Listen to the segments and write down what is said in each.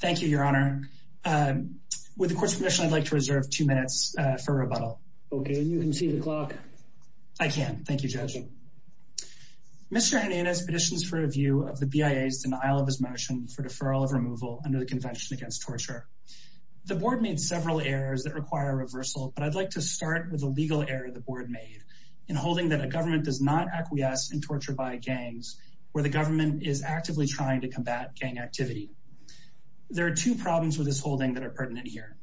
Thank you, Your Honor. With the court's permission, I'd like to reserve two minutes for rebuttal. Okay, and you can see the clock. I can. Thank you, Judge. Mr. Hernandez petitions for review of the BIA's denial of his motion for deferral of removal under the Convention Against Torture. The board made several errors that require reversal, but I'd like to start with a legal error the board made in holding that a government does not acquiesce in torture by gangs where the government is actively trying to combat gang activity. There are two problems with this holding that are pertinent here.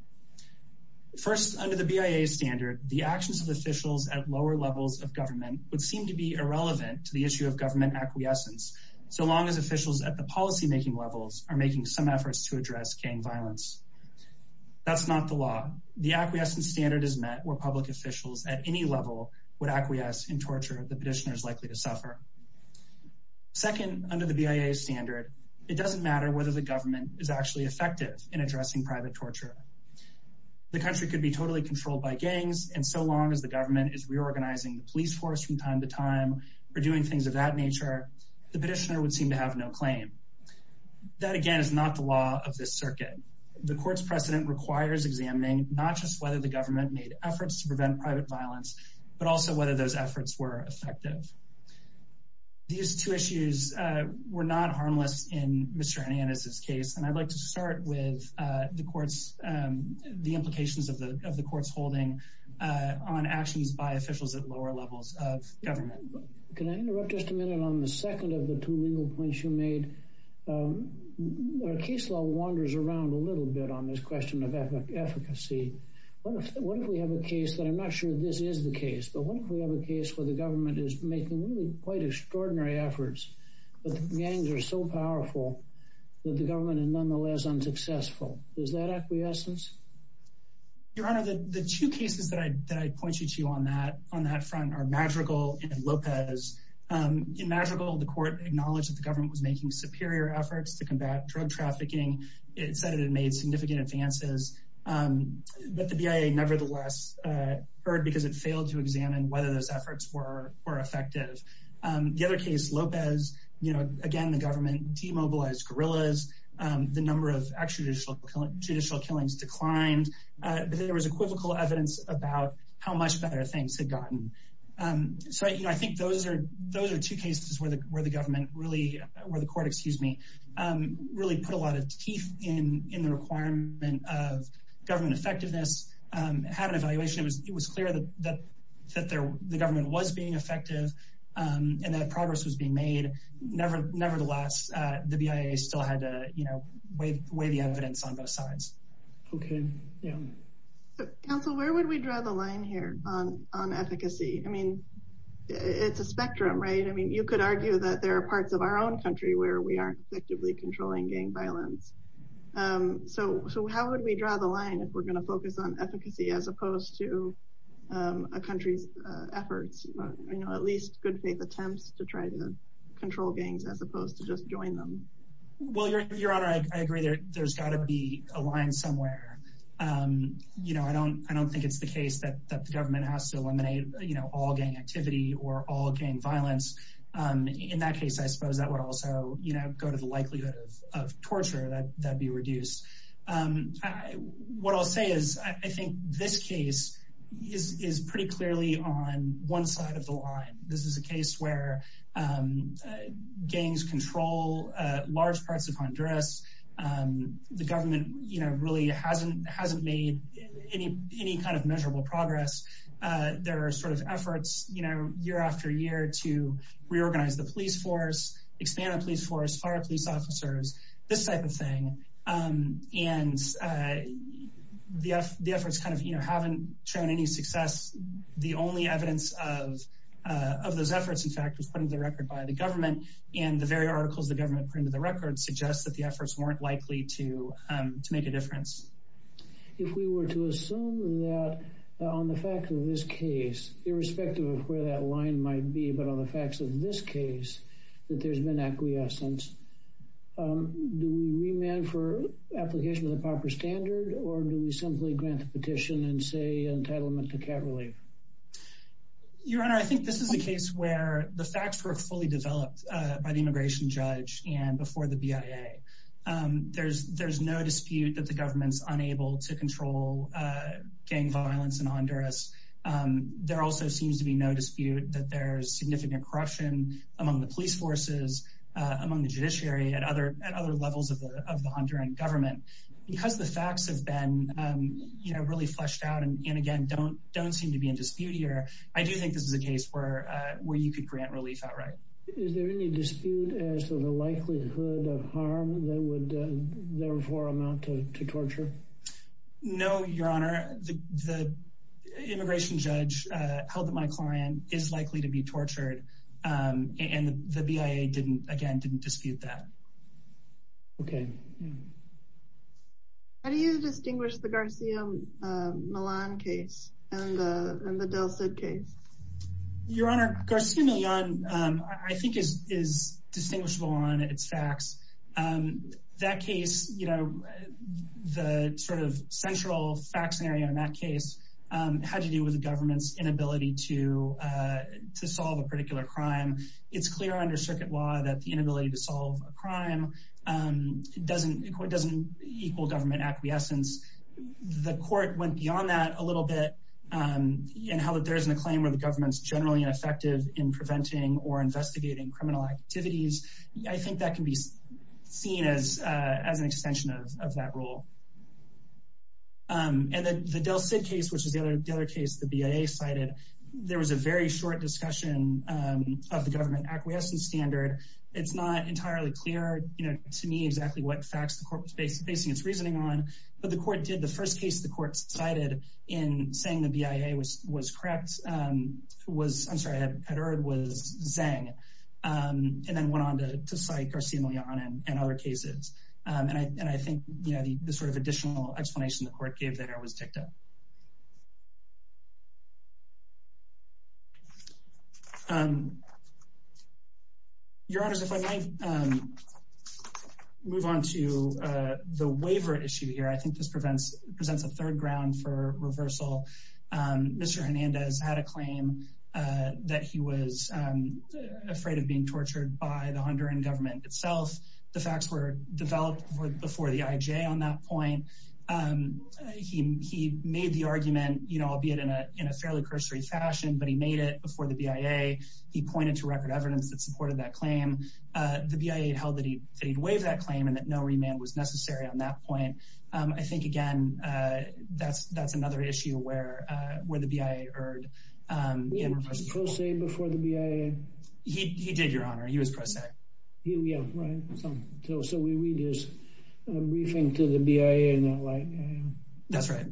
First, under the BIA standard, the actions of officials at lower levels of government would seem to be irrelevant to the issue of government acquiescence, so long as officials at the policymaking levels are making some efforts to address gang violence. That's not the law. The acquiescence standard is met where public officials at any level would acquiesce in whether the government is actually effective in addressing private torture. The country could be totally controlled by gangs, and so long as the government is reorganizing the police force from time to time for doing things of that nature, the petitioner would seem to have no claim. That, again, is not the law of this circuit. The court's precedent requires examining not just whether the government made efforts to prevent private violence, but also whether those I'd like to start with the implications of the court's holding on actions by officials at lower levels of government. Can I interrupt just a minute on the second of the two legal points you made? Our case law wanders around a little bit on this question of efficacy. What if we have a case that I'm not sure this is the case, but what if we have a case where the government is making quite extraordinary efforts, but the gangs are so powerful that the government is nonetheless unsuccessful? Is that acquiescence? Your Honor, the two cases that I pointed to on that front are Madrigal and Lopez. In Madrigal, the court acknowledged that the government was making superior efforts to combat drug trafficking. It said it had made significant advances, but the BIA nevertheless heard because it failed to examine whether those efforts were effective. The other case, Lopez, again, the government demobilized guerrillas. The number of extrajudicial killings declined. There was equivocal evidence about how much better things had gotten. I think those are two cases where the court really put a lot of teeth in the requirement of government effectiveness. It had an evaluation. It was clear that the government was being effective and that progress was being made. Nevertheless, the BIA still had to weigh the evidence on both sides. Okay, yeah. Counsel, where would we draw the line here on efficacy? It's a spectrum, right? You could argue that there are parts of our own country where we aren't effectively controlling gang violence. How would we draw the line if we're going to focus on efficacy as opposed to a country's efforts, at least good faith attempts to try to control gangs as opposed to just join them? Your Honor, I agree there's got to be a line somewhere. I don't think it's the case that the government has to eliminate all gang activity or all gang violence. In that the likelihood of torture, that'd be reduced. What I'll say is I think this case is pretty clearly on one side of the line. This is a case where gangs control large parts of Honduras. The government really hasn't made any kind of measurable progress. There are sort of efforts year after year to reorganize the police force, expand the police force, fire police officers, this type of thing. The efforts haven't shown any success. The only evidence of those efforts, in fact, was put into the record by the government. The very articles the government put into the record suggests that the efforts weren't likely to make a difference. If we were to assume that on the fact of this case, irrespective of where that line might be, but on the facts of this case, that there's been acquiescence, do we remand for application of the proper standard or do we simply grant the petition and say entitlement to cat relief? Your Honor, I think this is a case where the facts were fully developed by the immigration judge and before the BIA. There's no dispute that the government's unable to control gang violence in Honduras. There also seems to be no dispute that there's significant corruption among the police forces, among the judiciary, and other levels of the Honduran government. Because the facts have been really fleshed out and, again, don't seem to be in dispute here, I do think this is a case where you could grant relief outright. Is there any dispute as to the likelihood of harm that would therefore amount to torture? No, Your Honor, the immigration judge held that my client is likely to be tortured and the BIA didn't, again, didn't dispute that. Okay. How do you distinguish the Garcia Millan case and the Del Cid case? Your Honor, Garcia Millan, I think, is distinguishable on its facts. That case, you know, the sort of central fact scenario in that case had to do with the government's inability to solve a particular crime. It's clear under circuit law that the inability to solve a crime doesn't equal government acquiescence. The court went beyond that a little bit in how that there isn't a claim where the government's generally ineffective in preventing or investigating criminal activities. I think that can be seen as an extension of that rule. And then the Del Cid case, which is the other case the BIA cited, there was a very short discussion of the government acquiescence standard. It's not entirely clear, you know, to me exactly what facts the court was basing its reasoning on, but the court did, the first case the court cited in saying the BIA was correct, was, I'm sorry, had erred, was Zeng, and then went on to cite Garcia Millan and other cases. And I think, you know, the sort of additional explanation the court gave there was dicta. Your Honors, if I might move on to the waiver issue here, I think this presents a third ground for reversal. Mr. Hernandez had a claim that he was afraid of being tortured by the Honduran government itself. The facts were developed before the IJ on that point. He made the argument, albeit in a fairly cursory fashion, but he made it before the BIA. He pointed to record evidence that supported that claim. The BIA held that he'd waived that claim and that no remand was necessary on that point. I think, again, that's another issue where the BIA erred. Did he pro se before the BIA? He did, Your Honor. He was pro se. Yeah, right. So we read his briefing to the BIA and they're like, yeah. That's right.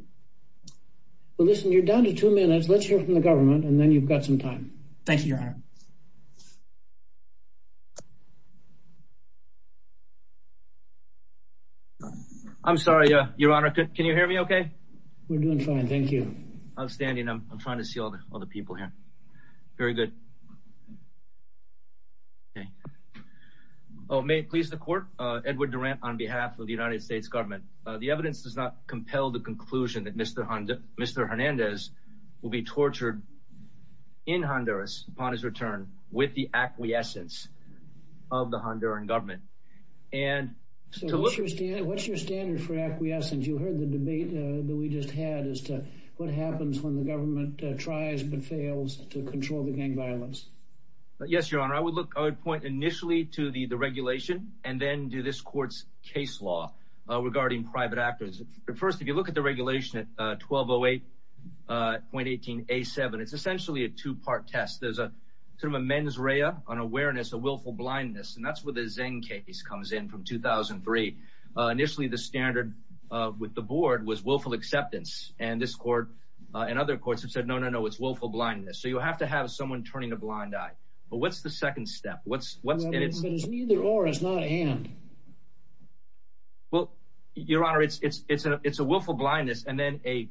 Well, listen, you're down to two minutes. Let's hear from the government and then you've got some time. Thank you, Your Honor. I'm sorry, Your Honor. Can you hear me okay? We're doing fine. Thank you. Outstanding. I'm trying to see all the people here. Very good. May it please the court. Edward Durant on behalf of the United States government. The evidence does not compel the conclusion that Mr. Hernandez will be tortured in Honduras upon his return with the acquiescence of the Honduran government. What's your standard for acquiescence? You heard the debate that we just had as to what happens when the government tries but fails to control the gang violence. Yes, Your Honor. I would point initially to the regulation and then to this court's case law regarding private actors. But first, if you look at the regulation at 1208.18A7, it's essentially a two-part test. There's a sort of a mens rea, an awareness, a willful blindness, and that's where the Zeng case comes in from 2003. Initially, the standard with the board was willful acceptance. And this court and other courts have said, no, no, no, it's willful blindness. So you have to have someone turning a blind eye. But what's the second step? But it's neither or, it's not and. Well, Your Honor, it's a willful blindness and then a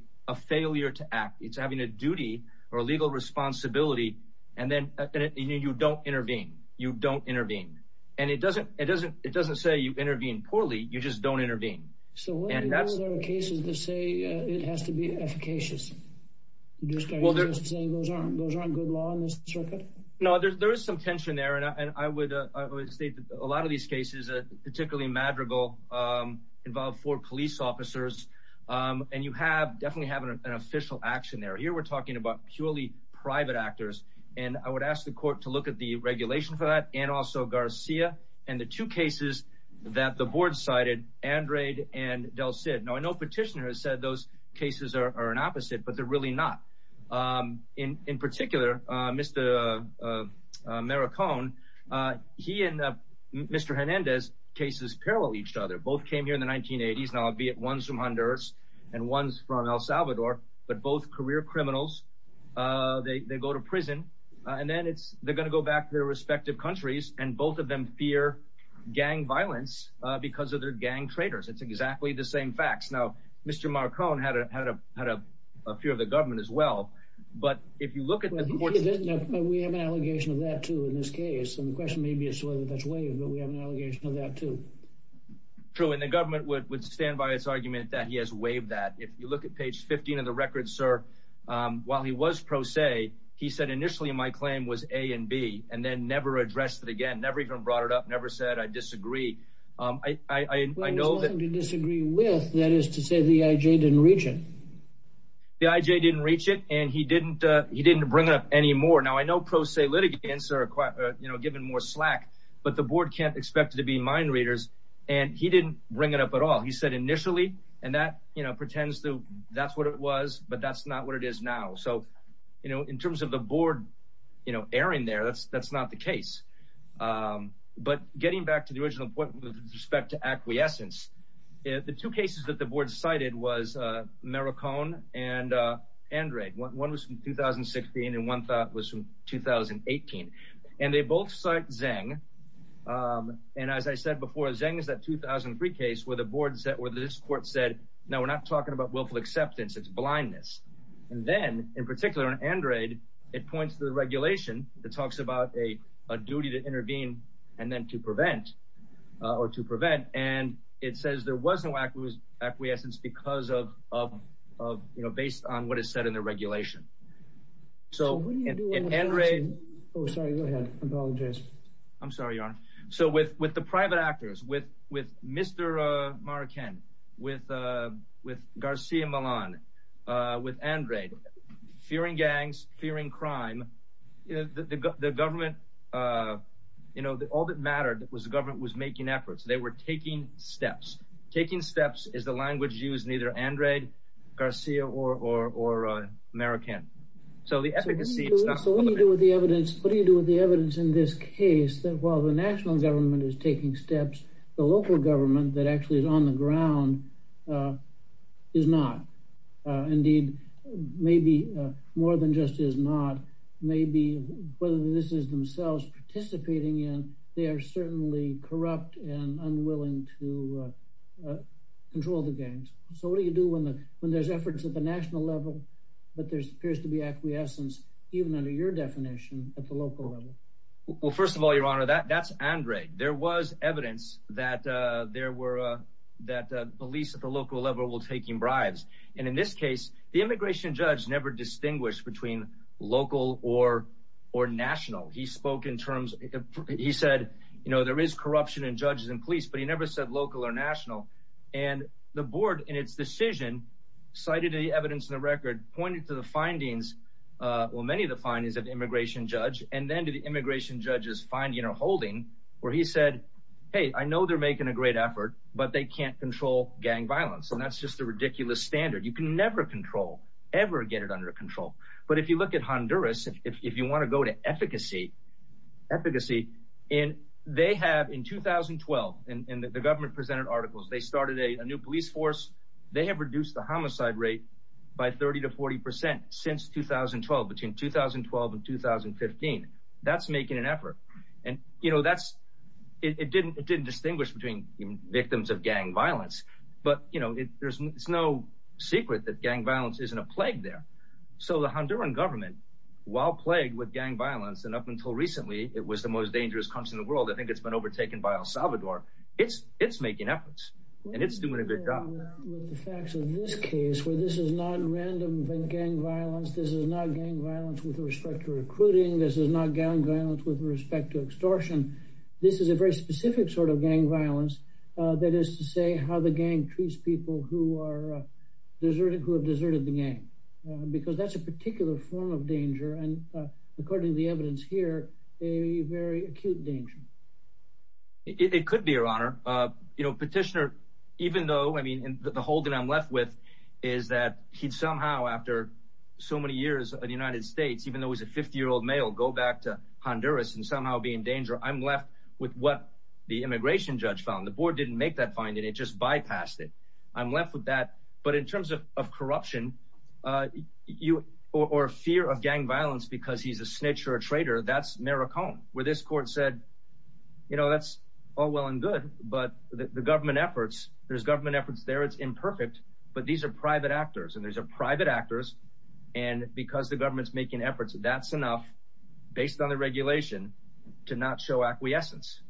failure to act. It's having a duty or a legal responsibility and then you don't intervene. You don't intervene. And it doesn't say you intervene poorly, you just don't intervene. So what are the other cases that say it has to be efficacious? Are you saying those aren't good law in this circuit? No, there is some tension there. And I would state that a lot of these cases, particularly Madrigal, involve four police officers. And you have, definitely have an official action there. Here we're talking about purely private actors. And I would ask the court to look at the regulation for that and also Garcia and the two cases that the board cited, Andrade and Del Cid. Now, I know Petitioner has said those He and Mr. Hernandez' cases parallel each other. Both came here in the 1980s, albeit ones from Honduras and ones from El Salvador, but both career criminals. They go to prison and then they're going to go back to their respective countries and both of them fear gang violence because of their gang traitors. It's exactly the same facts. Now, Mr. Marcon had a fear of the question. Maybe it's whether that's waived, but we have an allegation of that too. True. And the government would stand by its argument that he has waived that. If you look at page 15 of the record, sir, while he was pro se, he said, initially, my claim was A and B, and then never addressed it again. Never even brought it up. Never said I disagree. I know that there's nothing to disagree with. That is to say, the IJ didn't reach it. The IJ didn't reach it, and he didn't bring it up anymore. Now, I know pro se litigants give him more slack, but the board can't expect it to be mind readers, and he didn't bring it up at all. He said, initially, and that pretends that's what it was, but that's not what it is now. In terms of the board erring there, that's not the case. But getting back to the original point with respect to acquiescence, the two cases that the board cited was Marcon and Andrade. One was from 2016, and one thought was from 2018. And they both cite Zeng. And as I said before, Zeng is that 2003 case where this court said, no, we're not talking about willful acceptance. It's blindness. And then, in particular, in Andrade, it points to the regulation that talks about a duty to intervene and then to prevent, or to prevent, and it says there was no acquiescence because of, you know, based on what is said in the regulation. So, in Andrade, I'm sorry, Your Honor. So, with the private actors, with Mr. Marcon, with Garcia Millan, with Andrade, fearing gangs, fearing crime, the government, you know, all that mattered was the language used, neither Andrade, Garcia, or Marcon. So, the efficacy... So, what do you do with the evidence? What do you do with the evidence in this case that, while the national government is taking steps, the local government that actually is on the ground is not? Indeed, maybe more than just is not, maybe whether this is themselves participating in, they are certainly corrupt and unwilling to control the gangs. So, what do you do when there's efforts at the national level, but there appears to be acquiescence, even under your definition, at the local level? Well, first of all, Your Honor, that's Andrade. There was evidence that police at the local level were taking bribes. And in this case, the immigration judge never distinguished between local or national. He spoke in terms... He said, you know, there is corruption in judges and police, but he never said local or national. And the board, in its decision, cited the evidence in the record, pointed to the findings, well, many of the findings of the immigration judge, and then to the immigration judge's finding or holding, where he said, hey, I know they're making a great effort, but they can't control gang violence. And that's just a ridiculous standard. You can never control, ever get it under control. But if you look at Honduras, if you want to go to efficacy, and they have, in 2012, and the government presented articles, they started a new police force. They have reduced the homicide rate by 30 to 40 percent since 2012, between 2012 and 2015. That's making an effort. And, you know, that's... It didn't distinguish between victims of gang violence. But, you know, it's no secret that gang violence isn't a plague there. So the Honduran government, while plagued with gang violence, and up until recently, it was the most dangerous country in the world, I think it's been overtaken by El Salvador. It's making efforts, and it's doing a good job. Well, with the facts of this case, where this is not random gang violence, this is not gang violence with respect to recruiting, this is not gang violence with respect to extortion, this is a very specific sort of gang violence. That is to say, how the gang treats people who are deserted, who have deserted the gang. Because that's a particular form of danger, and according to the evidence here, a very acute danger. It could be, Your Honor. You know, Petitioner, even though, I mean, the hold that I'm left with is that he'd somehow, after so many years in the United States, even though he's a 50-year-old male, go back to Honduras and somehow be in danger, I'm left with what the immigration judge found. The board didn't make that finding, it just bypassed it. I'm left with that. But in terms of corruption, or fear of gang violence because he's a snitch or a traitor, that's maracone. Where this court said, you know, that's all well and good, but the government efforts, there's government efforts there, it's imperfect, but these are private actors, they're private actors, and because the government's making efforts, that's enough, based on the regulation, to not show acquiescence.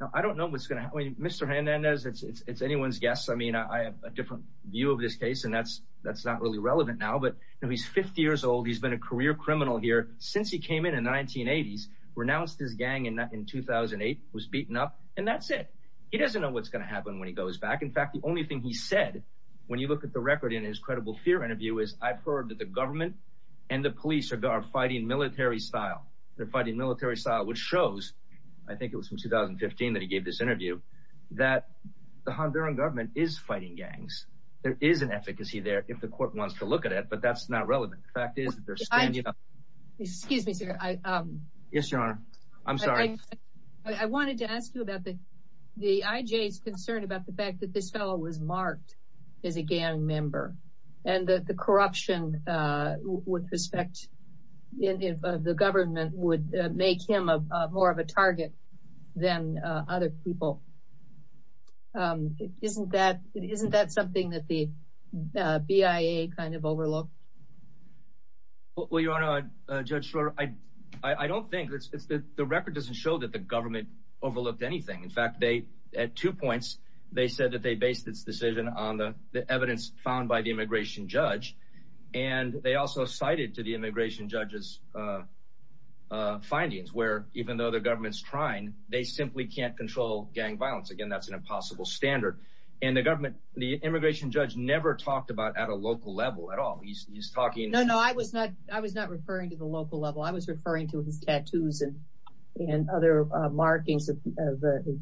Now, I don't know what's going to happen, Mr. Hernandez, it's anyone's guess, I mean, I have a different view of this case, and that's not really relevant now, but he's 50 years old, he's been a career criminal here since he came in the 1980s, renounced his gang in 2008, was beaten up, and that's it. He doesn't know what's going to happen when he goes back. In fact, the only thing he said, when you look at the record in his credible fear interview, is I've heard that the government and the police are fighting military style. They're fighting military style, which shows, I think it was from 2015 that he gave this interview, that the Honduran government is fighting gangs. There is an efficacy there, if the court wants to look at it, but that's not relevant. The fact is that they're standing up. Excuse me, sir. Yes, your honor. I'm sorry. I wanted to ask you about the IJ's concern about the fact that this fellow was marked as a gang member, and that the corruption with respect of the government would make him more of a target than other people. Isn't that something that the BIA kind of overlooked? Well, your honor, Judge Schroeder, I don't think, the record doesn't show that the government said that they based its decision on the evidence found by the immigration judge, and they also cited to the immigration judge's findings, where even though the government's trying, they simply can't control gang violence. Again, that's an impossible standard, and the immigration judge never talked about at a local level at all. He's talking... No, no, I was not referring to the local level. I was referring to his tattoos and other markings of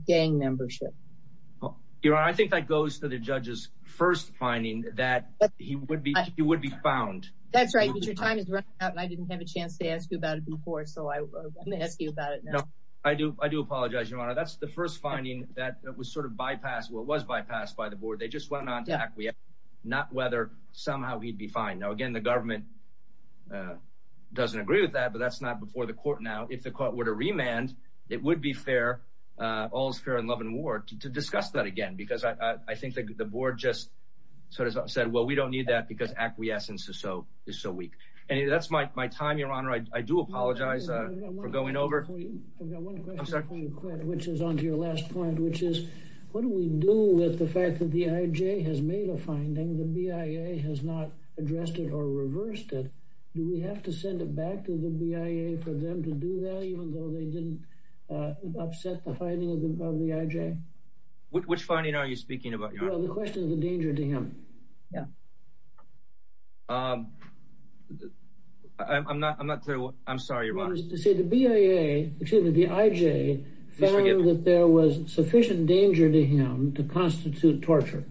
gang membership. Your honor, I think that goes to the judge's first finding that he would be found. That's right, but your time is running out, and I didn't have a chance to ask you about it before, so I'm going to ask you about it now. I do apologize, your honor. That's the first finding that was sort of bypassed, well, it was bypassed by the board. They just went on to acquiesce, not whether somehow he'd be fined. Now, again, the government doesn't agree with that, but that's not before the court now. If the court were to remand, it would be fair, all's fair in love and war, to discuss that again, because I think the board just sort of said, well, we don't need that because acquiescence is so weak. Anyway, that's my time, your honor. I do apologize for going over. I've got one question before you quit, which is onto your last point, which is what do we do with the fact that the IJ has made a Do we have to send it back to the BIA for them to do that, even though they didn't upset the finding of the IJ? Which finding are you speaking about, your honor? Well, the question of the danger to him. Yeah. I'm not, I'm not clear what, I'm sorry, your honor. See, the BIA, excuse me, the IJ found that there was sufficient danger to him to constitute torture.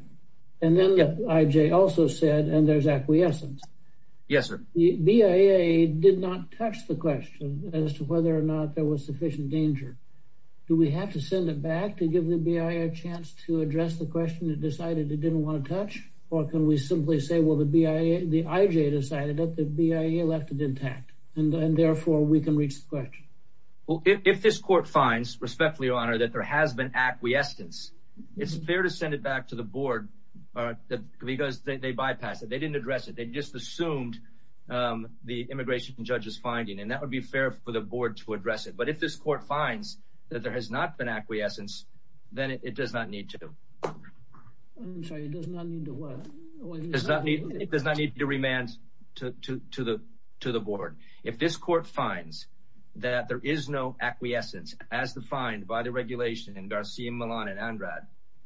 And then the IJ also said, and there's acquiescence. Yes, sir. The BIA did not touch the question as to whether or not there was sufficient danger. Do we have to send it back to give the BIA a chance to address the question it decided it didn't want to touch? Or can we simply say, well, the BIA, the IJ decided that the BIA left it intact and therefore we can reach the question. Well, if this court finds, respectfully, your honor, that there has been acquiescence, it's fair to send it back to the board because they bypassed it. They didn't address it. They just assumed the immigration judge's finding, and that would be fair for the board to address it. But if this court finds that there has not been acquiescence, then it does not need to. I'm sorry, it does not need to what? It does not need to remand to the board. If this court finds that there is no acquiescence as defined by the regulation in Garcia, Milan, and Andrad,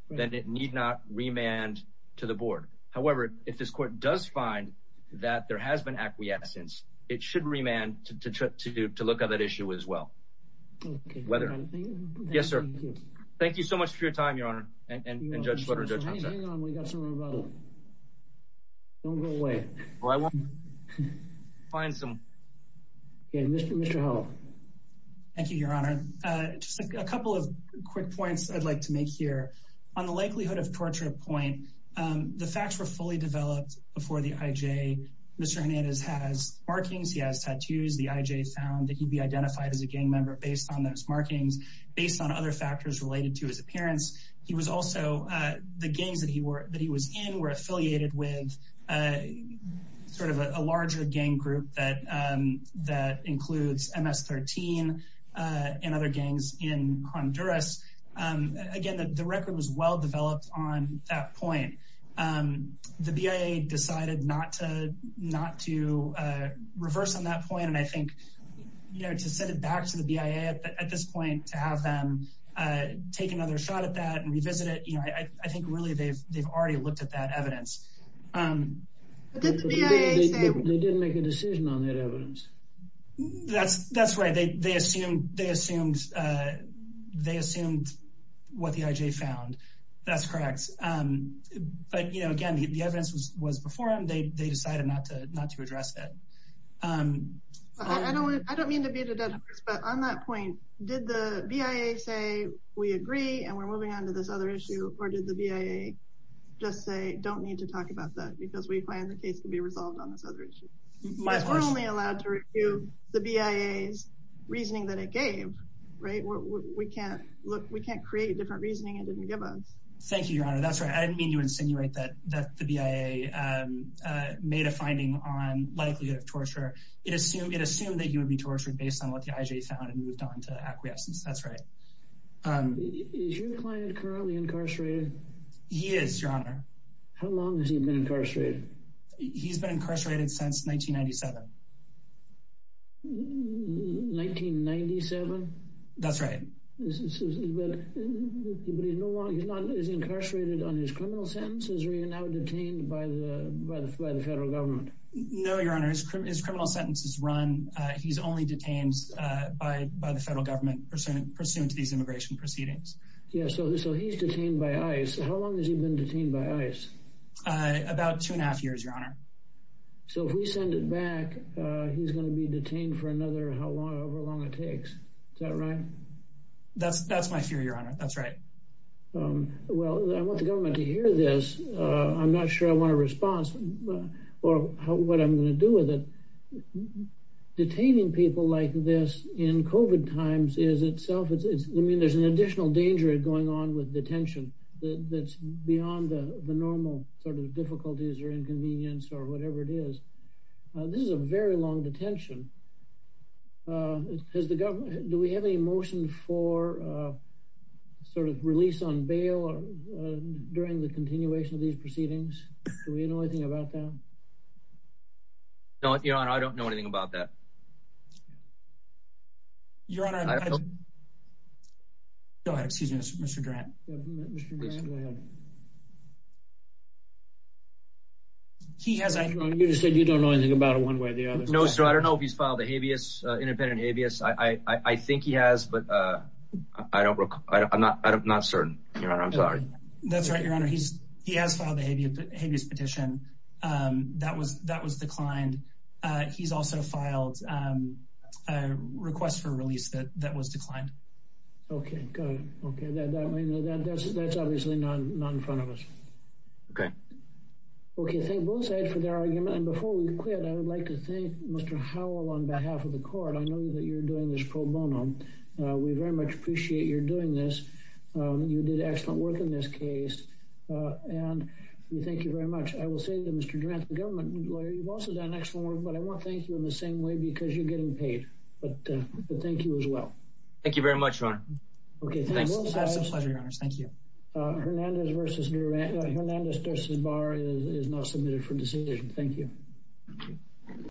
then it need not remand to the board. However, if this court does find that there has been acquiescence, it should remand to look at that issue as well. Yes, sir. Thank you so much for your time. Thank you, your honor. Just a couple of quick points I'd like to make here. On the likelihood of torture point, the facts were fully developed before the IJ. Mr. Hernandez has markings, he has tattoos. The IJ found that he'd be identified as a gang member based on those markings, based on other factors related to his appearance. He was also, the gangs that he was in were affiliated with sort of a larger gang group that includes MS-13 and other gangs in Honduras. Again, the record was well developed on that point. The BIA decided not to reverse on that point. And I think, you know, to send it back to the BIA at this point to have them take another shot at that and revisit it, you know, I think really they've already looked at that evidence. They didn't make a decision on that evidence. That's right. They assumed what the IJ found. That's correct. But, you know, again, the evidence was before them. They decided not to address that. I don't mean to beat a dead horse, but on that point, did the BIA say, we agree and we're moving on to this other issue, or did the BIA just say, don't need to talk about that because we plan the case to be resolved on this other issue. We're only allowed to review the BIA's reasoning that it gave, right? We can't create different reasoning it didn't give us. Thank you, Your Honor. That's right. I didn't mean to insinuate that the BIA made a finding on likelihood of torture. It assumed that you would be tortured based on what the IJ found and moved on to acquiescence. That's right. Is your client currently incarcerated? He is, Your Honor. How long has he been incarcerated? He's been incarcerated since 1997. 1997? That's right. But he's no longer, he's not, he's incarcerated on his criminal sentences or you're now detained by the federal government? No, Your Honor. His criminal sentence is run. He's only detained by the federal government pursuant to these immigration proceedings. Yeah, so he's detained by ICE. How long has he been detained by ICE? About two and a half years, Your Honor. So if we send it back, he's going to be detained for another however long it takes. Is that right? That's my fear, Your Honor. That's right. Well, I want the government to hear this. I'm not sure I want a response, or what I'm going to do with it. Detaining people like this in COVID times is itself, it's, I mean, there's an additional danger going on with detention that's beyond the normal sort of difficulties or inconvenience or whatever it is. This is a very long detention. Has the government, do we have any motion for sort of release on bail or during the continuation of these proceedings? Do we know anything about that? No, Your Honor. I don't know anything about that. Your Honor. Go ahead. Excuse me, Mr. Durant. He has, I don't know. You just said you don't know anything about it one way or the other. No, sir. I don't know if he's filed a habeas, independent habeas. I think he has, but I don't recall. I'm not certain, Your Honor. I'm sorry. That's right, Your Honor. He's, he has filed a habeas petition. That was declined. He's also filed a request for release that was declined. Okay. Got it. Okay. That's obviously not in front of us. Okay. Okay. Thank both sides for their argument. And before we quit, I would like to thank Mr. Howell on behalf of the court. I know that you're doing this pro bono. We very much appreciate your doing this. You did excellent work in this case. And we thank you very much. I will say that Mr. Durant, the government lawyer, you've also done excellent work, but I want to thank you in the same way because you're getting paid. But thank you as well. Thank you very much, Your Honor. Okay. Thanks. It's an absolute pleasure, Your Honor. Thank you. Hernandez versus Durant, Hernandez versus Barr is now submitted for decision. Thank you.